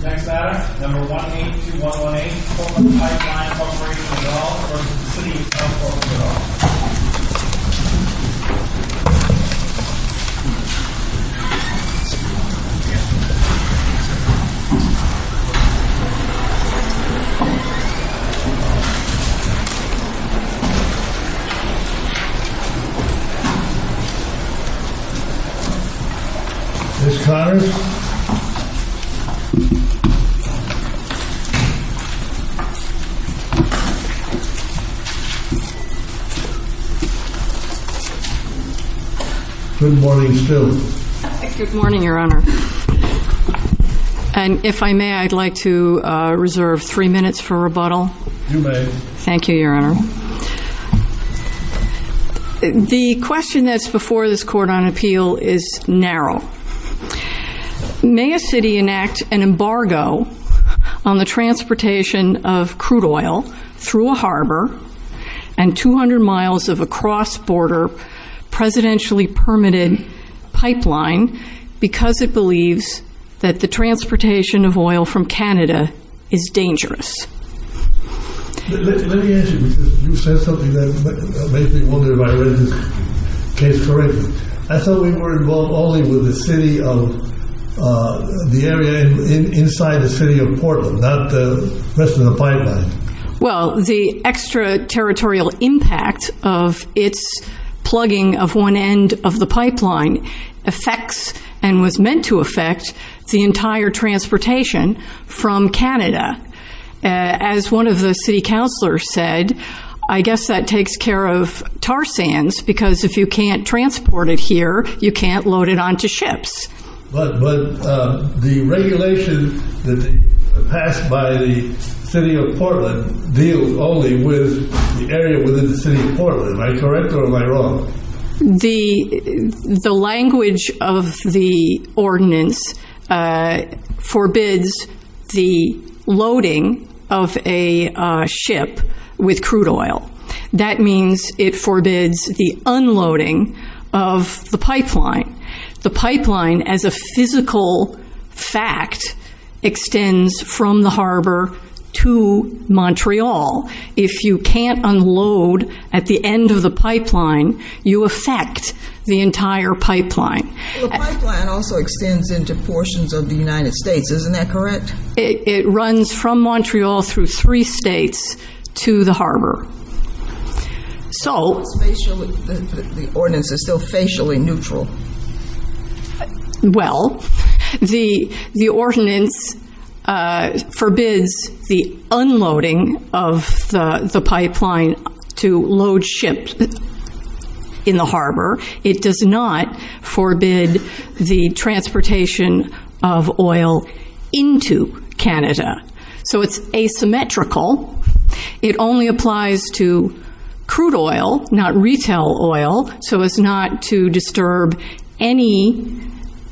Next item, No. 182118, Portland Pipe Line Corp. v. City of So. Portland Next item, No. 182118, Portland Pipe Line Corp. v. City of So. Portland May a city enact an embargo on the transportation of crude oil through a harbor and 200 miles of a cross-border presidentially permitted pipeline because it believes that the transportation of oil from Canada is dangerous? May a city enact an embargo on the transportation of crude oil through a harbor and 200 miles of a cross-border presidentially permitted pipeline because it believes that the transportation of oil from Canada is dangerous? As one of the city councilors said, I guess that takes care of tar sands because if you can't transport it here, you can't load it onto ships. But the regulation that passed by the City of Portland deals only with the area within the City of Portland. Am I correct or am I wrong? The language of the ordinance forbids the loading of a ship with crude oil. That means it forbids the unloading of the pipeline. The pipeline, as a physical fact, extends from the harbor to Montreal. If you can't unload at the end of the pipeline, you affect the entire pipeline. The pipeline also extends into portions of the United States. Isn't that correct? It runs from Montreal through three states to the harbor. The ordinance is still facially neutral. Well, the ordinance forbids the unloading of the pipeline to load ships in the harbor. It does not forbid the transportation of oil into Canada. So it's asymmetrical. It only applies to crude oil, not retail oil. So it's not to disturb any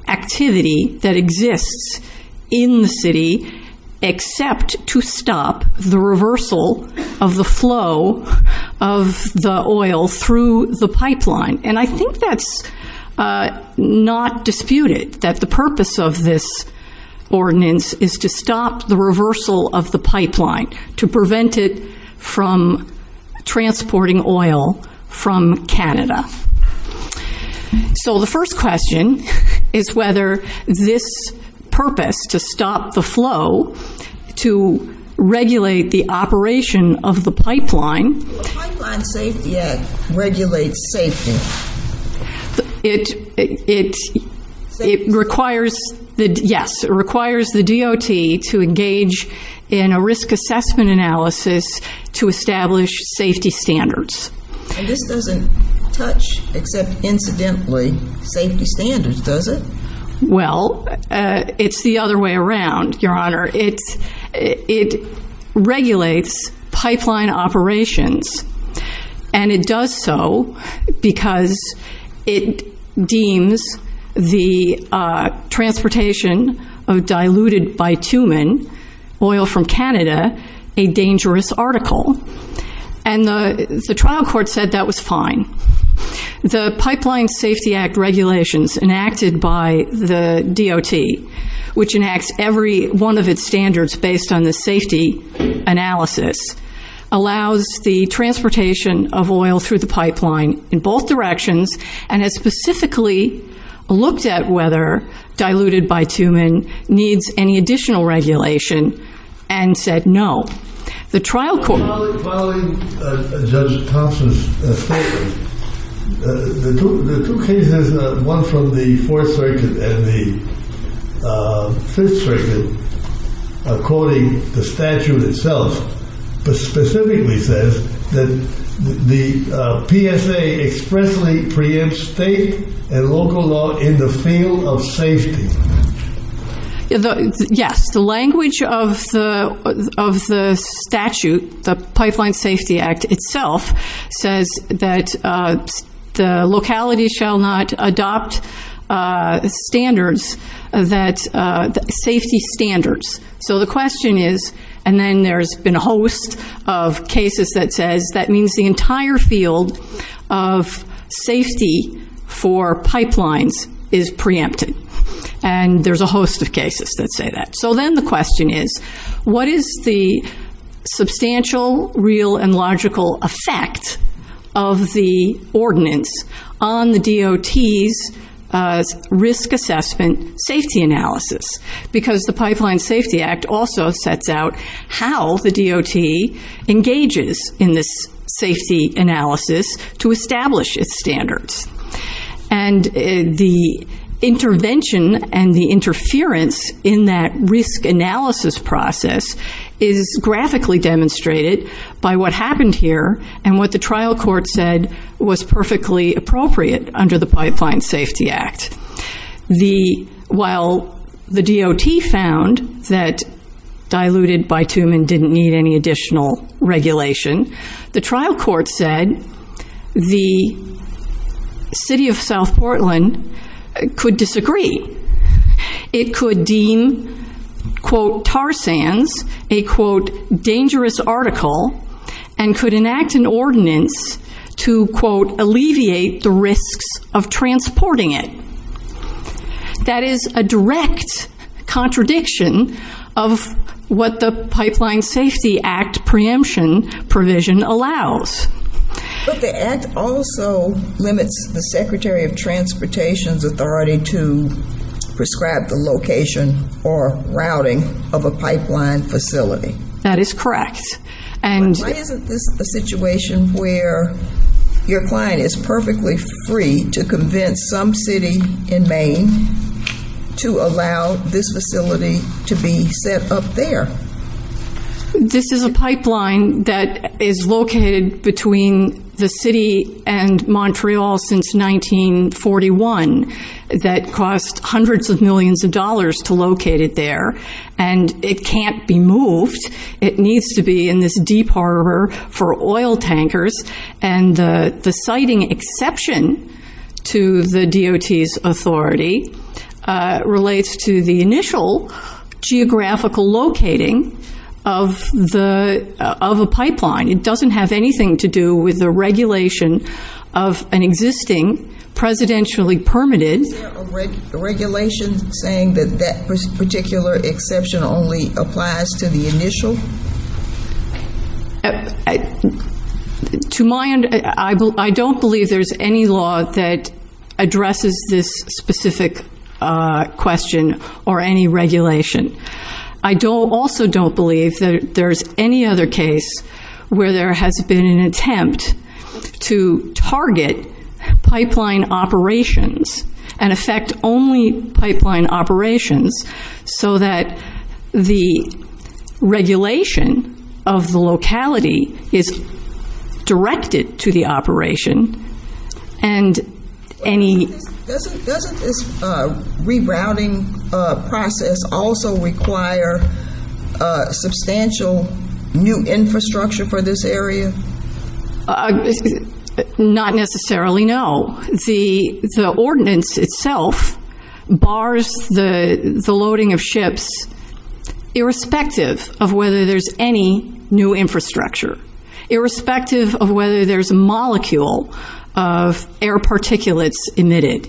activity that exists in the city except to stop the reversal of the flow of the oil through the pipeline. And I think that's not disputed, that the purpose of this ordinance is to stop the reversal of the pipeline, to prevent it from transporting oil from Canada. So the first question is whether this purpose to stop the flow, to regulate the operation of the pipeline... It requires the DOT to engage in a risk assessment analysis to establish safety standards. And this doesn't touch, except incidentally, safety standards, does it? Well, it's the other way around, Your Honor. It regulates pipeline operations, and it does so because it deems the transportation of diluted bitumen, oil from Canada, a dangerous article. And the trial court said that was fine. The Pipeline Safety Act regulations enacted by the DOT, which enacts every one of its standards based on the safety analysis, allows the transportation of oil through the pipeline in both directions, and has specifically looked at whether diluted bitumen needs any additional regulation and said no. Violating Judge Thompson's statement, the two cases, one from the Fourth Circuit and the Fifth Circuit, according to the statute itself, specifically says that the PSA expressly preempts state and local law in the field of safety. Yes, the language of the statute, the Pipeline Safety Act itself, says that the locality shall not adopt safety standards. So the question is, and then there's been a host of cases that says that means the entire field of safety for pipelines is preempted. And there's a host of cases that say that. So then the question is, what is the substantial, real, and logical effect of the ordinance on the DOT's risk assessment safety analysis? Because the Pipeline Safety Act also sets out how the DOT engages in this safety analysis to establish its standards. And the intervention and the interference in that risk analysis process is graphically demonstrated by what happened here and what the trial court said was perfectly appropriate under the Pipeline Safety Act. While the DOT found that diluted bitumen didn't need any additional regulation, the trial court said the city of South Portland could disagree. It could deem, quote, tar sands, a, quote, dangerous article, and could enact an ordinance to, quote, alleviate the risks of transporting it. That is a direct contradiction of what the Pipeline Safety Act preemption provision allows. But the act also limits the Secretary of Transportation's authority to prescribe the location or routing of a pipeline facility. That is correct. But why isn't this a situation where your client is perfectly free to convince some city in Maine to allow this facility to be set up there? This is a pipeline that is located between the city and Montreal since 1941 that cost hundreds of millions of dollars to locate it there. And it can't be moved. It needs to be in this deep harbor for oil tankers. And the citing exception to the DOT's authority relates to the initial geographical locating of a pipeline. It doesn't have anything to do with the regulation of an existing presidentially permitted. Is there a regulation saying that that particular exception only applies to the initial? To my end, I don't believe there's any law that addresses this specific question or any regulation. I also don't believe that there's any other case where there has been an attempt to target pipeline operations and affect only pipeline operations so that the regulation of the locality is directed to the operation. Doesn't this rerouting process also require substantial new infrastructure for this area? Not necessarily, no. The ordinance itself bars the loading of ships irrespective of whether there's any new infrastructure, irrespective of whether there's a molecule of air particulates emitted.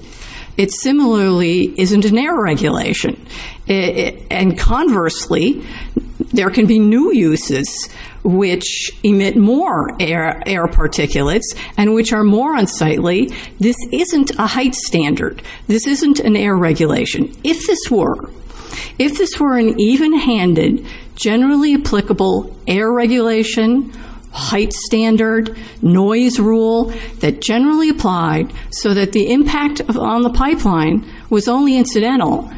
It similarly isn't an air regulation. And conversely, there can be new uses which emit more air particulates and which are more unsightly. This isn't a height standard. This isn't an air regulation. If this were, if this were an even-handed, generally applicable air regulation, height standard, noise rule that generally applied so that the impact on the pipeline was only incidental,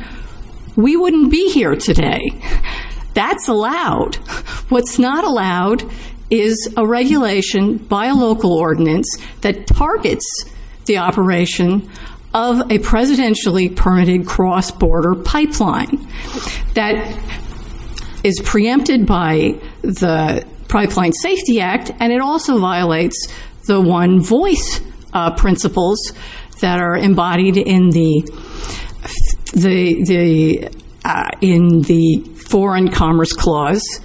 we wouldn't be here today. That's allowed. What's not allowed is a regulation by a local ordinance that targets the operation of a presidentially-permitted cross-border pipeline that is preempted by the Pipeline Safety Act, and it also violates the one-voice principles that are embodied in the Foreign Commerce Clause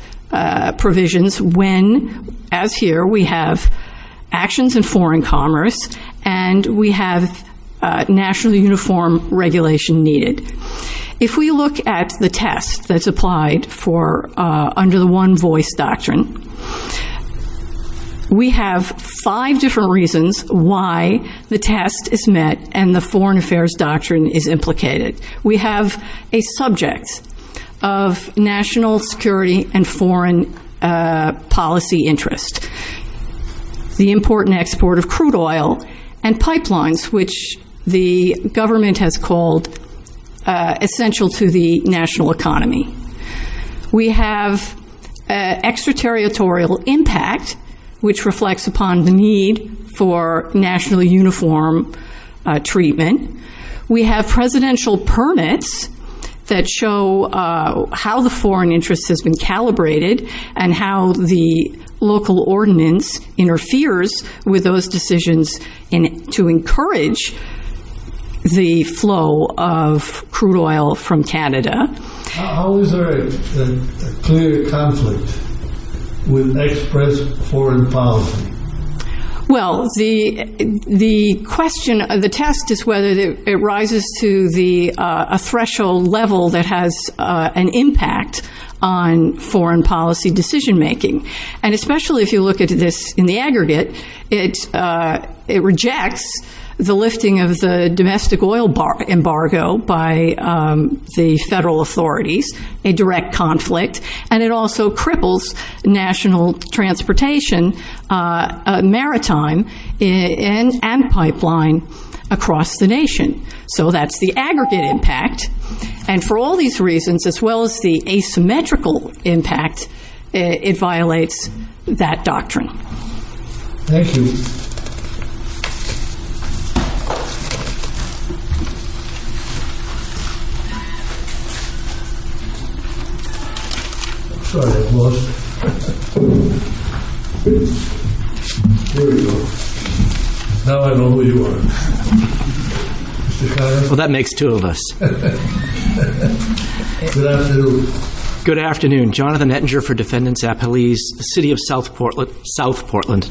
provisions when, as here, we have actions in foreign commerce and we have nationally-uniform regulation needed. If we look at the test that's applied for, under the one-voice doctrine, we have five different reasons why the test is met and the foreign affairs doctrine is implicated. We have a subject of national security and foreign policy interest, the import and export of crude oil, and pipelines, which the government has called essential to the national economy. We have extraterritorial impact, which reflects upon the need for nationally-uniform treatment. We have presidential permits that show how the foreign interest has been calibrated and how the local ordinance interferes with those decisions to encourage the flow of crude oil from Canada. How is there a clear conflict with expressed foreign policy? Well, the question of the test is whether it rises to a threshold level that has an impact on foreign policy decision-making, and especially if you look at this in the aggregate, it rejects the lifting of the domestic oil embargo by the federal authorities, a direct conflict, and it also cripples national transportation, maritime, and pipeline across the nation. So that's the aggregate impact, and for all these reasons, as well as the asymmetrical impact, it violates that doctrine. Thank you. Well, that makes two of us. Good afternoon. Jonathan Ettinger for Defendants at Police, the City of South Portland,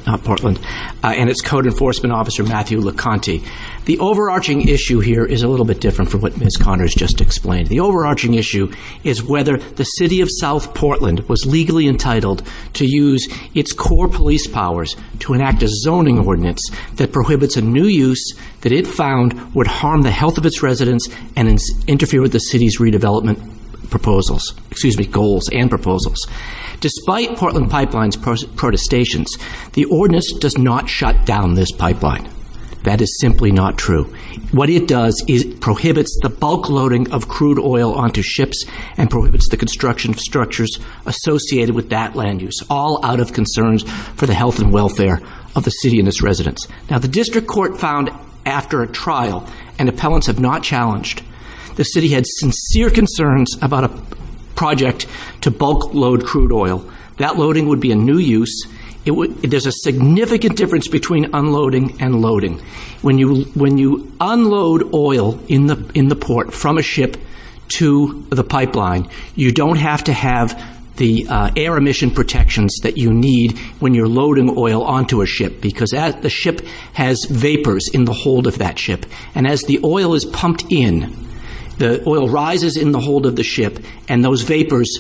and its Code Enforcement Officer, Matthew Liconti. The overarching issue here is a little bit different from what Ms. Conner has just explained. The overarching issue is whether the City of South Portland was legally entitled to use its core police powers to enact a zoning ordinance that prohibits a new use that it found would harm the health of its residents and interfere with the city's redevelopment proposals, excuse me, goals and proposals. Despite Portland Pipeline's protestations, the ordinance does not shut down this pipeline. That is simply not true. What it does is it prohibits the bulk loading of crude oil onto ships and prohibits the construction of structures associated with that land use, all out of concerns for the health and welfare of the city and its residents. Now, the district court found after a trial, and appellants have not challenged, the city had sincere concerns about a project to bulk load crude oil. That loading would be a new use. There's a significant difference between unloading and loading. When you unload oil in the port from a ship to the pipeline, you don't have to have the air emission protections that you need when you're loading oil onto a ship because the ship has vapors in the hold of that ship. And as the oil is pumped in, the oil rises in the hold of the ship, and those vapors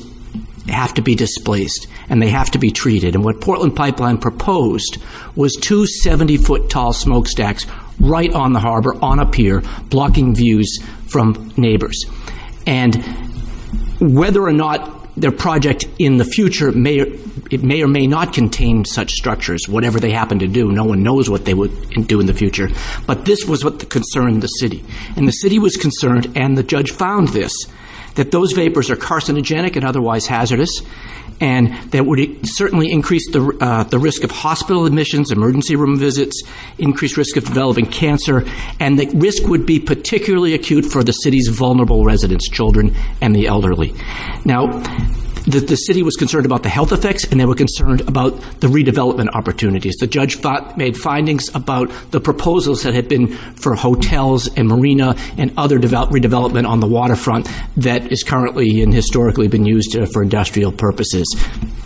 have to be displaced and they have to be treated. And what Portland Pipeline proposed was two 70-foot tall smokestacks right on the harbor, on a pier, blocking views from neighbors. And whether or not their project in the future may or may not contain such structures, whatever they happen to do, no one knows what they would do in the future. But this was what concerned the city. And the city was concerned, and the judge found this, that those vapors are carcinogenic and otherwise hazardous, and that would certainly increase the risk of hospital admissions, emergency room visits, increased risk of developing cancer, and the risk would be particularly acute for the city's vulnerable residents, children and the elderly. Now, the city was concerned about the health effects, and they were concerned about the redevelopment opportunities. The judge made findings about the proposals that had been for hotels and marina and other redevelopment on the waterfront that is currently and historically been used for industrial purposes,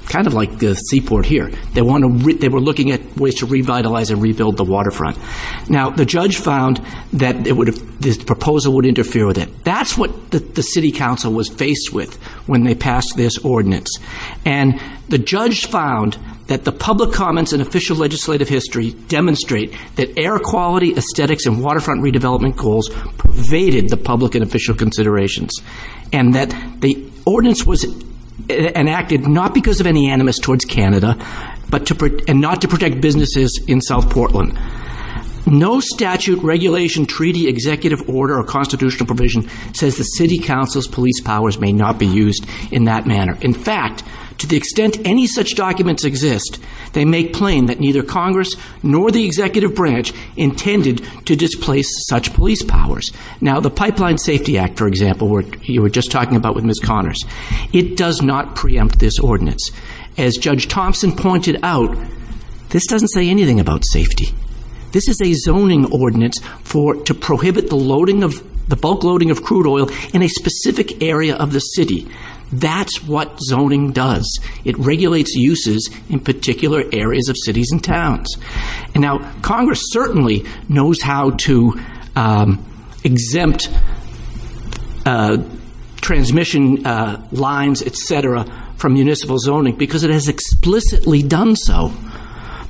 kind of like the seaport here. They were looking at ways to revitalize and rebuild the waterfront. Now, the judge found that this proposal would interfere with it. That's what the city council was faced with when they passed this ordinance. And the judge found that the public comments in official legislative history demonstrate that air quality, aesthetics, and waterfront redevelopment goals pervaded the public and official considerations, and that the ordinance was enacted not because of any animus towards Canada and not to protect businesses in South Portland. No statute, regulation, treaty, executive order, or constitutional provision says the city council's police powers may not be used in that manner. In fact, to the extent any such documents exist, they make plain that neither Congress nor the executive branch intended to displace such police powers. Now, the Pipeline Safety Act, for example, which you were just talking about with Ms. Connors, it does not preempt this ordinance. As Judge Thompson pointed out, this doesn't say anything about safety. This is a zoning ordinance to prohibit the bulk loading of crude oil in a specific area of the city. That's what zoning does. It regulates uses in particular areas of cities and towns. Congress certainly knows how to exempt transmission lines, et cetera, from municipal zoning because it has explicitly done so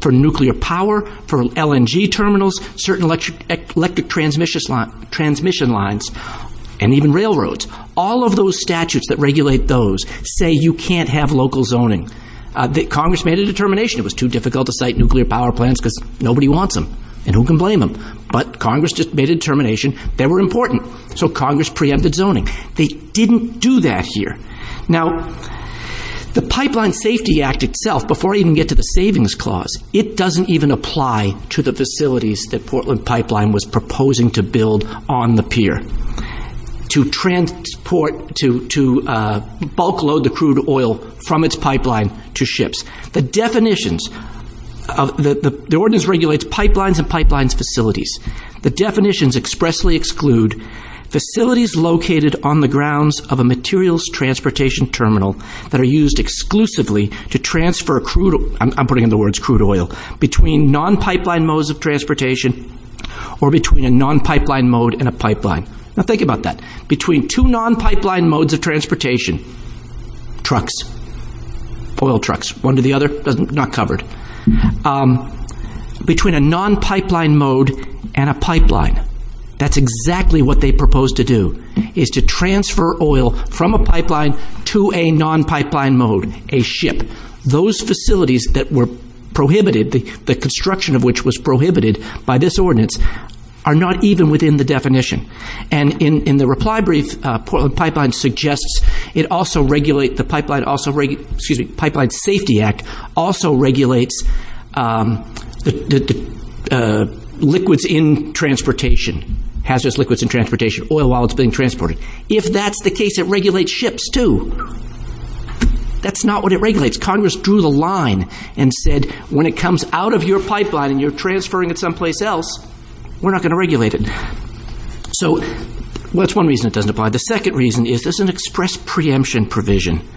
for nuclear power, for LNG terminals, certain electric transmission lines, and even railroads. All of those statutes that regulate those say you can't have local zoning. Congress made a determination. It was too difficult to cite nuclear power plans because nobody wants them, and who can blame them? But Congress made a determination they were important, so Congress preempted zoning. They didn't do that here. Now, the Pipeline Safety Act itself, before I even get to the Savings Clause, it doesn't even apply to the facilities that Portland Pipeline was proposing to build on the pier. To transport, to bulk load the crude oil from its pipeline to ships. The definitions, the ordinance regulates pipelines and pipelines facilities. The definitions expressly exclude facilities located on the grounds of a materials transportation terminal that are used exclusively to transfer crude, I'm putting in the words crude oil, between non-pipeline modes of transportation or between a non-pipeline mode and a pipeline. Now, think about that. Between two non-pipeline modes of transportation, trucks, oil trucks, one to the other, not covered. Between a non-pipeline mode and a pipeline. That's exactly what they proposed to do, is to transfer oil from a pipeline to a non-pipeline mode, a ship. Those facilities that were prohibited, the construction of which was prohibited by this ordinance, are not even within the definition. And in the reply brief, Portland Pipeline suggests it also regulate, the Pipeline Safety Act also regulates liquids in transportation, hazardous liquids in transportation, oil while it's being transported. If that's the case, it regulates ships too. That's not what it regulates. Congress drew the line and said when it comes out of your pipeline and you're transferring it someplace else, we're not going to regulate it. So that's one reason it doesn't apply. The second reason is there's an express preemption provision.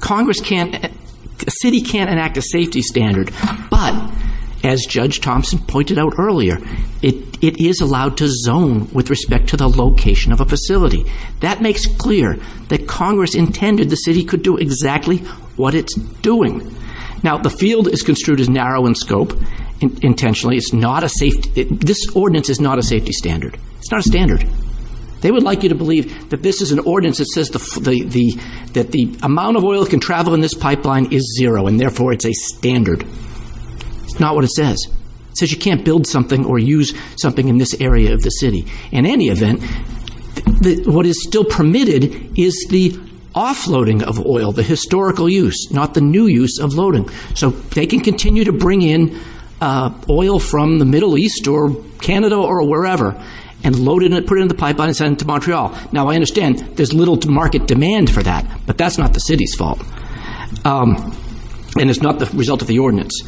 Congress can't, the city can't enact a safety standard, but as Judge Thompson pointed out earlier, it is allowed to zone with respect to the location of a facility. That makes clear that Congress intended the city could do exactly what it's doing. Now the field is construed as narrow in scope intentionally. It's not a safety, this ordinance is not a safety standard. It's not a standard. They would like you to believe that this is an ordinance that says the amount of oil that can travel in this pipeline is zero and therefore it's a standard. It's not what it says. It says you can't build something or use something in this area of the city. In any event, what is still permitted is the offloading of oil, the historical use, not the new use of loading. So they can continue to bring in oil from the Middle East or Canada or wherever and put it in the pipeline and send it to Montreal. Now I understand there's little market demand for that, but that's not the city's fault. And it's not the result of the ordinance.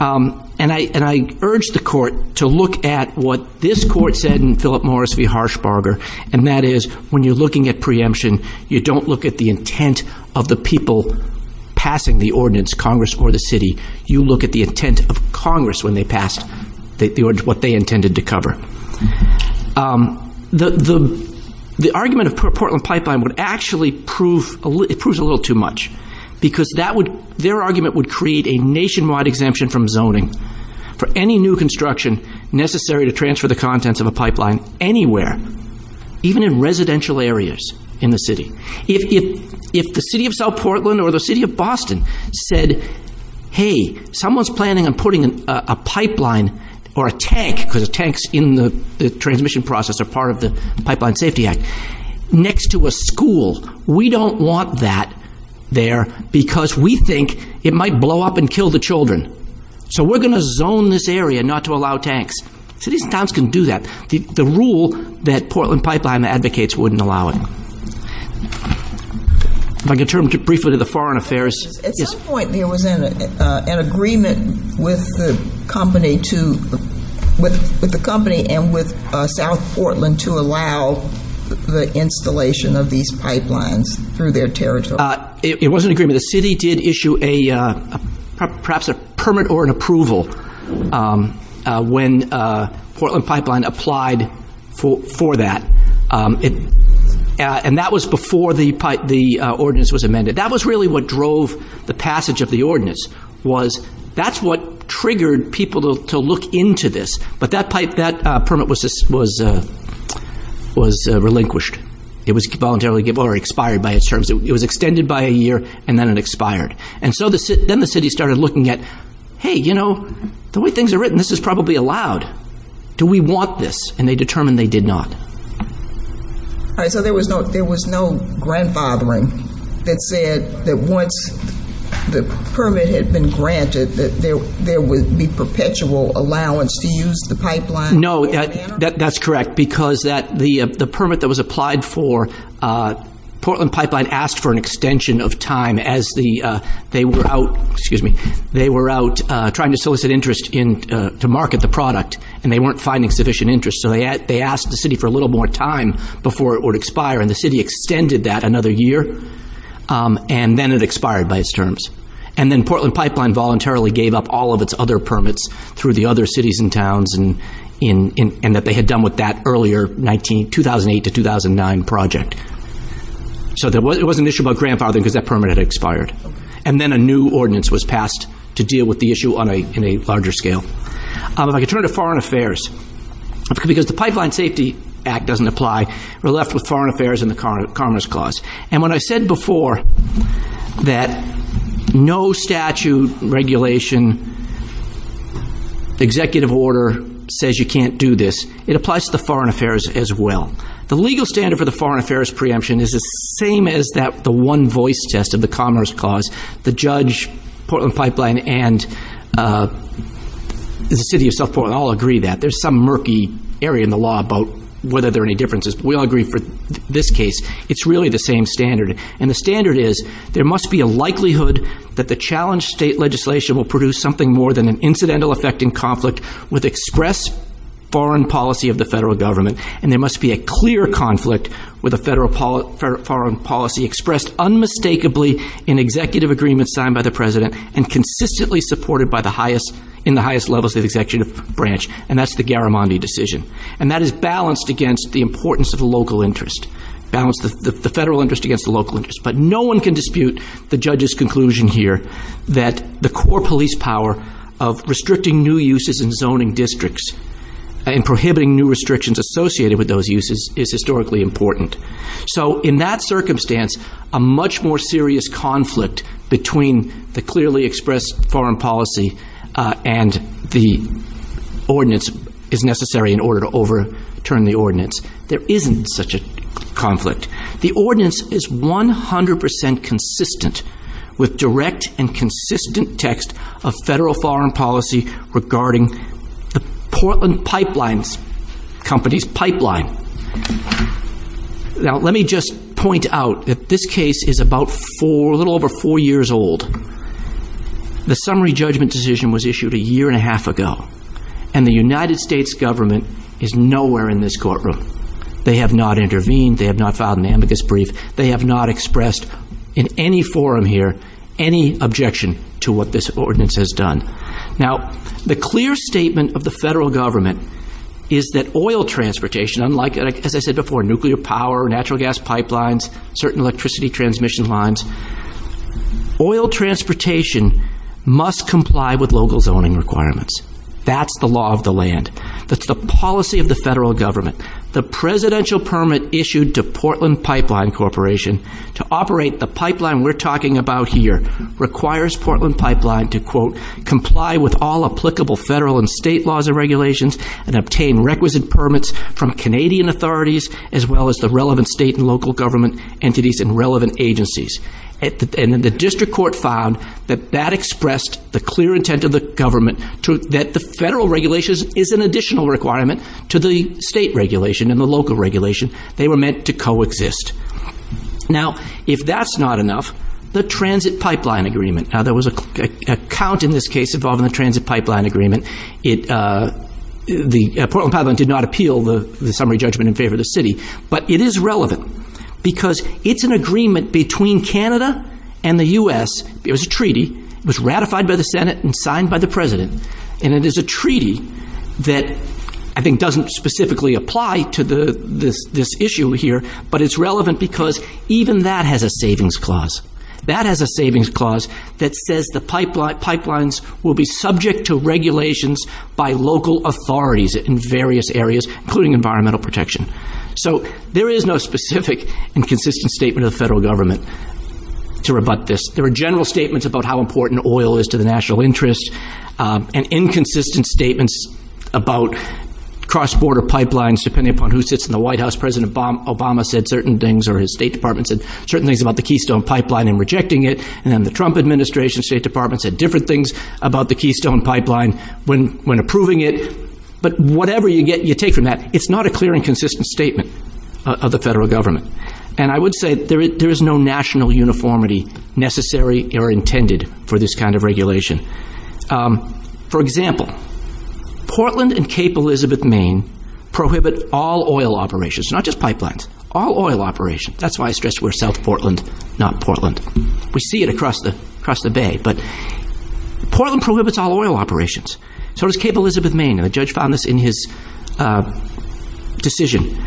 And I urge the Court to look at what this Court said in Philip Morris v. Harshbarger, and that is when you're looking at preemption, you don't look at the intent of the people passing the ordinance, Congress or the city. You look at the intent of Congress when they passed what they intended to cover. The argument of Portland Pipeline would actually prove a little too much because their argument would create a nationwide exemption from zoning for any new construction necessary to transfer the contents of a pipeline anywhere, even in residential areas in the city. If the city of South Portland or the city of Boston said, hey, someone's planning on putting a pipeline or a tank, because a tank's in the transmission process or part of the Pipeline Safety Act, next to a school, we don't want that there because we think it might blow up and kill the children. So we're going to zone this area not to allow tanks. Cities and towns can do that. The rule that Portland Pipeline advocates wouldn't allow it. If I could turn briefly to the Foreign Affairs. At some point there was an agreement with the company and with South Portland to allow the installation of these pipelines through their territory. It was an agreement. The city did issue perhaps a permit or an approval when Portland Pipeline applied for that. And that was before the ordinance was amended. That was really what drove the passage of the ordinance, was that's what triggered people to look into this. But that permit was relinquished. It was voluntarily given or expired by its terms. It was extended by a year, and then it expired. And so then the city started looking at, hey, you know, the way things are written, this is probably allowed. Do we want this? And they determined they did not. So there was no grandfathering that said that once the permit had been granted, that there would be perpetual allowance to use the pipeline? No, that's correct, because the permit that was applied for, Portland Pipeline asked for an extension of time as they were out trying to solicit interest to market the product, and they weren't finding sufficient interest. So they asked the city for a little more time before it would expire, and the city extended that another year, and then it expired by its terms. And then Portland Pipeline voluntarily gave up all of its other permits through the other cities and towns and that they had done with that earlier 2008 to 2009 project. So there was an issue about grandfathering because that permit had expired. And then a new ordinance was passed to deal with the issue on a larger scale. If I could turn to Foreign Affairs, because the Pipeline Safety Act doesn't apply, we're left with Foreign Affairs and the Commerce Clause. And when I said before that no statute, regulation, executive order says you can't do this, it applies to the Foreign Affairs as well. The legal standard for the Foreign Affairs preemption is the same as the one voice test of the Commerce Clause. The judge, Portland Pipeline, and the City of South Portland all agree that. There's some murky area in the law about whether there are any differences, but we all agree for this case. It's really the same standard. And the standard is there must be a likelihood that the challenged state legislation will produce something more than an incidental effect in conflict with express foreign policy of the federal government, and there must be a clear conflict with a federal foreign policy expressed unmistakably in executive agreements signed by the president and consistently supported in the highest levels of the executive branch, and that's the Garamondi decision. And that is balanced against the importance of the local interest, balanced the federal interest against the local interest, but no one can dispute the judge's conclusion here that the core police power of restricting new uses in zoning districts and prohibiting new restrictions associated with those uses is historically important. So in that circumstance, a much more serious conflict between the clearly expressed foreign policy and the ordinance is necessary in order to overturn the ordinance. There isn't such a conflict. The ordinance is 100% consistent with direct and consistent text of federal foreign policy regarding the Portland Pipeline Company's pipeline. Now, let me just point out that this case is about four, a little over four years old. The summary judgment decision was issued a year and a half ago, and the United States government is nowhere in this courtroom. They have not intervened. They have not filed an amicus brief. They have not expressed in any forum here any objection to what this ordinance has done. Now, the clear statement of the federal government is that oil transportation, unlike, as I said before, nuclear power, natural gas pipelines, certain electricity transmission lines, oil transportation must comply with local zoning requirements. That's the law of the land. That's the policy of the federal government. The presidential permit issued to Portland Pipeline Corporation to operate the pipeline we're talking about here requires Portland Pipeline to, quote, comply with all applicable federal and state laws and regulations and obtain requisite permits from Canadian authorities as well as the relevant state and local government entities and relevant agencies. And the district court found that that expressed the clear intent of the government that the federal regulations is an additional requirement to the state regulation and the local regulation. They were meant to coexist. Now, if that's not enough, the transit pipeline agreement. Now, there was a count in this case involving the transit pipeline agreement. Portland Pipeline did not appeal the summary judgment in favor of the city, but it is relevant because it's an agreement between Canada and the U.S. It was a treaty. It was ratified by the Senate and signed by the president. And it is a treaty that I think doesn't specifically apply to this issue here, but it's relevant because even that has a savings clause. That has a savings clause that says the pipelines will be subject to regulations by local authorities in various areas, including environmental protection. So there is no specific and consistent statement of the federal government to rebut this. There are general statements about how important oil is to the national interest and inconsistent statements about cross-border pipelines depending upon who sits in the White House. President Obama said certain things, or his State Department said certain things about the Keystone Pipeline and rejecting it. And then the Trump Administration State Department said different things about the Keystone Pipeline when approving it. But whatever you take from that, it's not a clear and consistent statement of the federal government. And I would say there is no national uniformity necessary or intended for this kind of regulation. For example, Portland and Cape Elizabeth, Maine, prohibit all oil operations. Not just pipelines. All oil operations. That's why I stress we're South Portland, not Portland. We see it across the Bay. But Portland prohibits all oil operations. So does Cape Elizabeth, Maine. And the judge found this in his decision.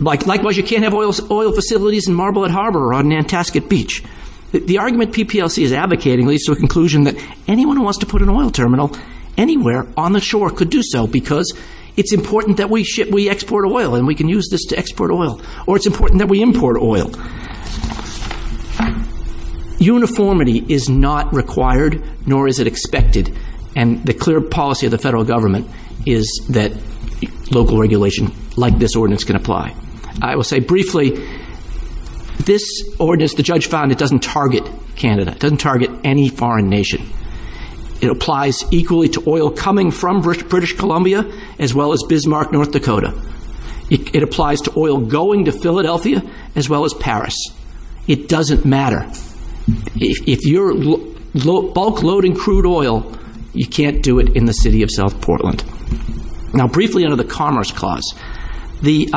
Likewise, you can't have oil facilities in Marblehead Harbor or on Nantasket Beach. The argument PPLC is advocating leads to a conclusion that anyone who wants to put an oil terminal anywhere on the shore could do so because it's important that we export oil and we can use this to export oil. Or it's important that we import oil. Uniformity is not required, nor is it expected. And the clear policy of the federal government is that local regulation like this ordinance can apply. I will say briefly, this ordinance, the judge found it doesn't target Canada. It doesn't target any foreign nation. It applies equally to oil coming from British Columbia as well as Bismarck, North Dakota. It applies to oil going to Philadelphia as well as Paris. It doesn't matter. If you're bulk loading crude oil, you can't do it in the city of South Portland. Now, briefly under the Commerce Clause. The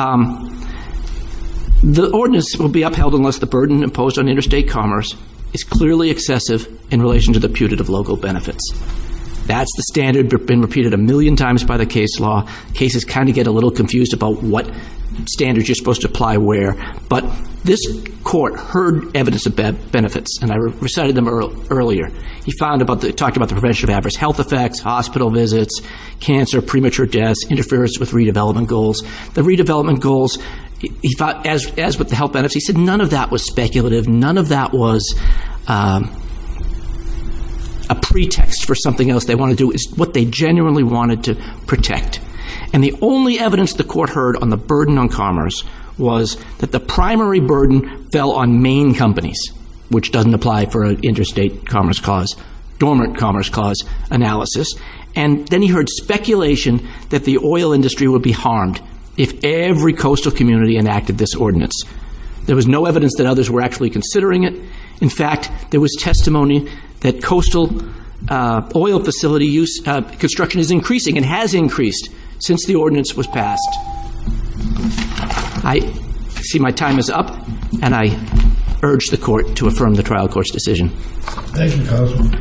ordinance will be upheld unless the burden imposed on interstate commerce is clearly excessive in relation to the putative local benefits. That's the standard that's been repeated a million times by the case law. Cases kind of get a little confused about what standards you're supposed to apply where. But this court heard evidence of benefits, and I recited them earlier. He talked about the prevention of adverse health effects, hospital visits, cancer, premature deaths, interference with redevelopment goals. The redevelopment goals, as with the health benefits, he said none of that was speculative. None of that was a pretext for something else they want to do. It's what they genuinely wanted to protect. And the only evidence the court heard on the burden on commerce was that the primary burden fell on main companies, which doesn't apply for an interstate commerce clause, dormant commerce clause analysis. And then he heard speculation that the oil industry would be harmed if every coastal community enacted this ordinance. There was no evidence that others were actually considering it. In fact, there was testimony that coastal oil facility construction is increasing and has increased since the ordinance was passed. I see my time is up, and I urge the court to affirm the trial court's decision. Thank you, counsel.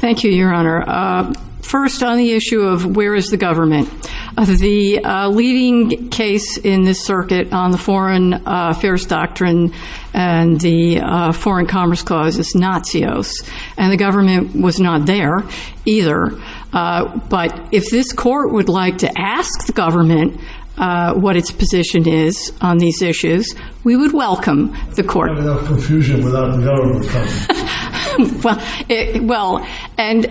Thank you, Your Honor. First, on the issue of where is the government. The leading case in this circuit on the foreign affairs doctrine and the foreign commerce clause is Natsios, and the government was not there either. But if this court would like to ask the government what its position is on these issues, we would welcome the court. Without confusion, without the government coming. Well, and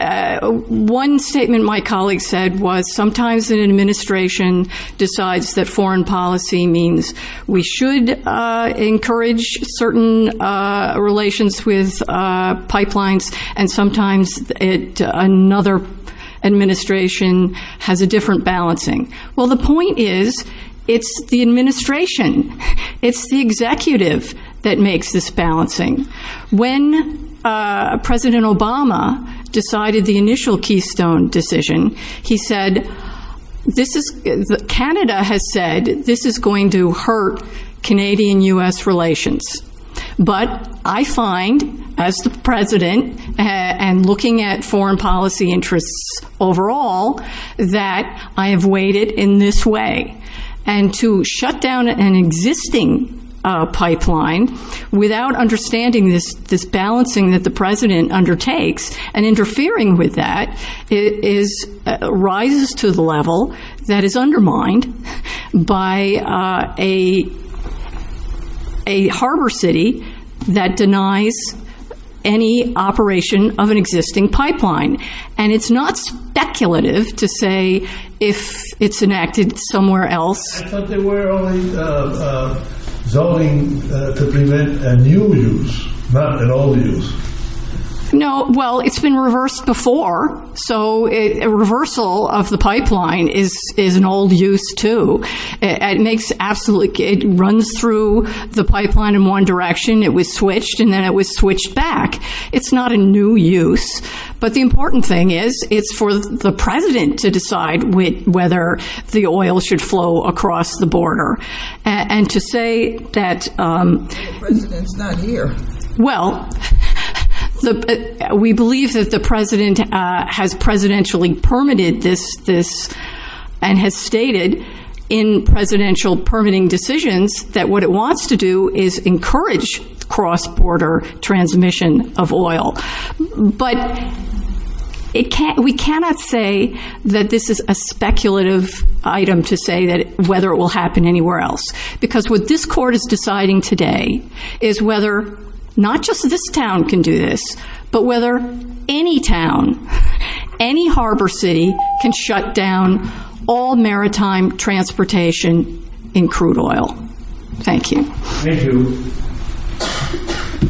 one statement my colleague said was sometimes an administration decides that foreign policy means we should encourage certain relations with pipelines, and sometimes another administration has a different balancing. Well, the point is it's the administration, it's the executive that makes this balancing. When President Obama decided the initial Keystone decision, he said, Canada has said this is going to hurt Canadian-U.S. relations. But I find, as the president, and looking at foreign policy interests overall, that I have weighed it in this way. And to shut down an existing pipeline without understanding this balancing that the president undertakes and interfering with that rises to the level that is undermined by a harbor city that denies any operation of an existing pipeline. And it's not speculative to say if it's enacted somewhere else. I thought they were only zoning to prevent a new use, not an old use. No, well, it's been reversed before. So a reversal of the pipeline is an old use, too. It makes absolutely, it runs through the pipeline in one direction. It was switched and then it was switched back. It's not a new use. But the important thing is it's for the president to decide whether the oil should flow across the border. And to say that. The president's not here. Well, we believe that the president has presidentially permitted this and has stated in presidential permitting decisions that what it wants to do is encourage cross-border transmission of oil. But we cannot say that this is a speculative item to say whether it will happen anywhere else. Because what this court is deciding today is whether not just this town can do this, but whether any town, any harbor city can shut down all maritime transportation in crude oil. Thank you. Thank you.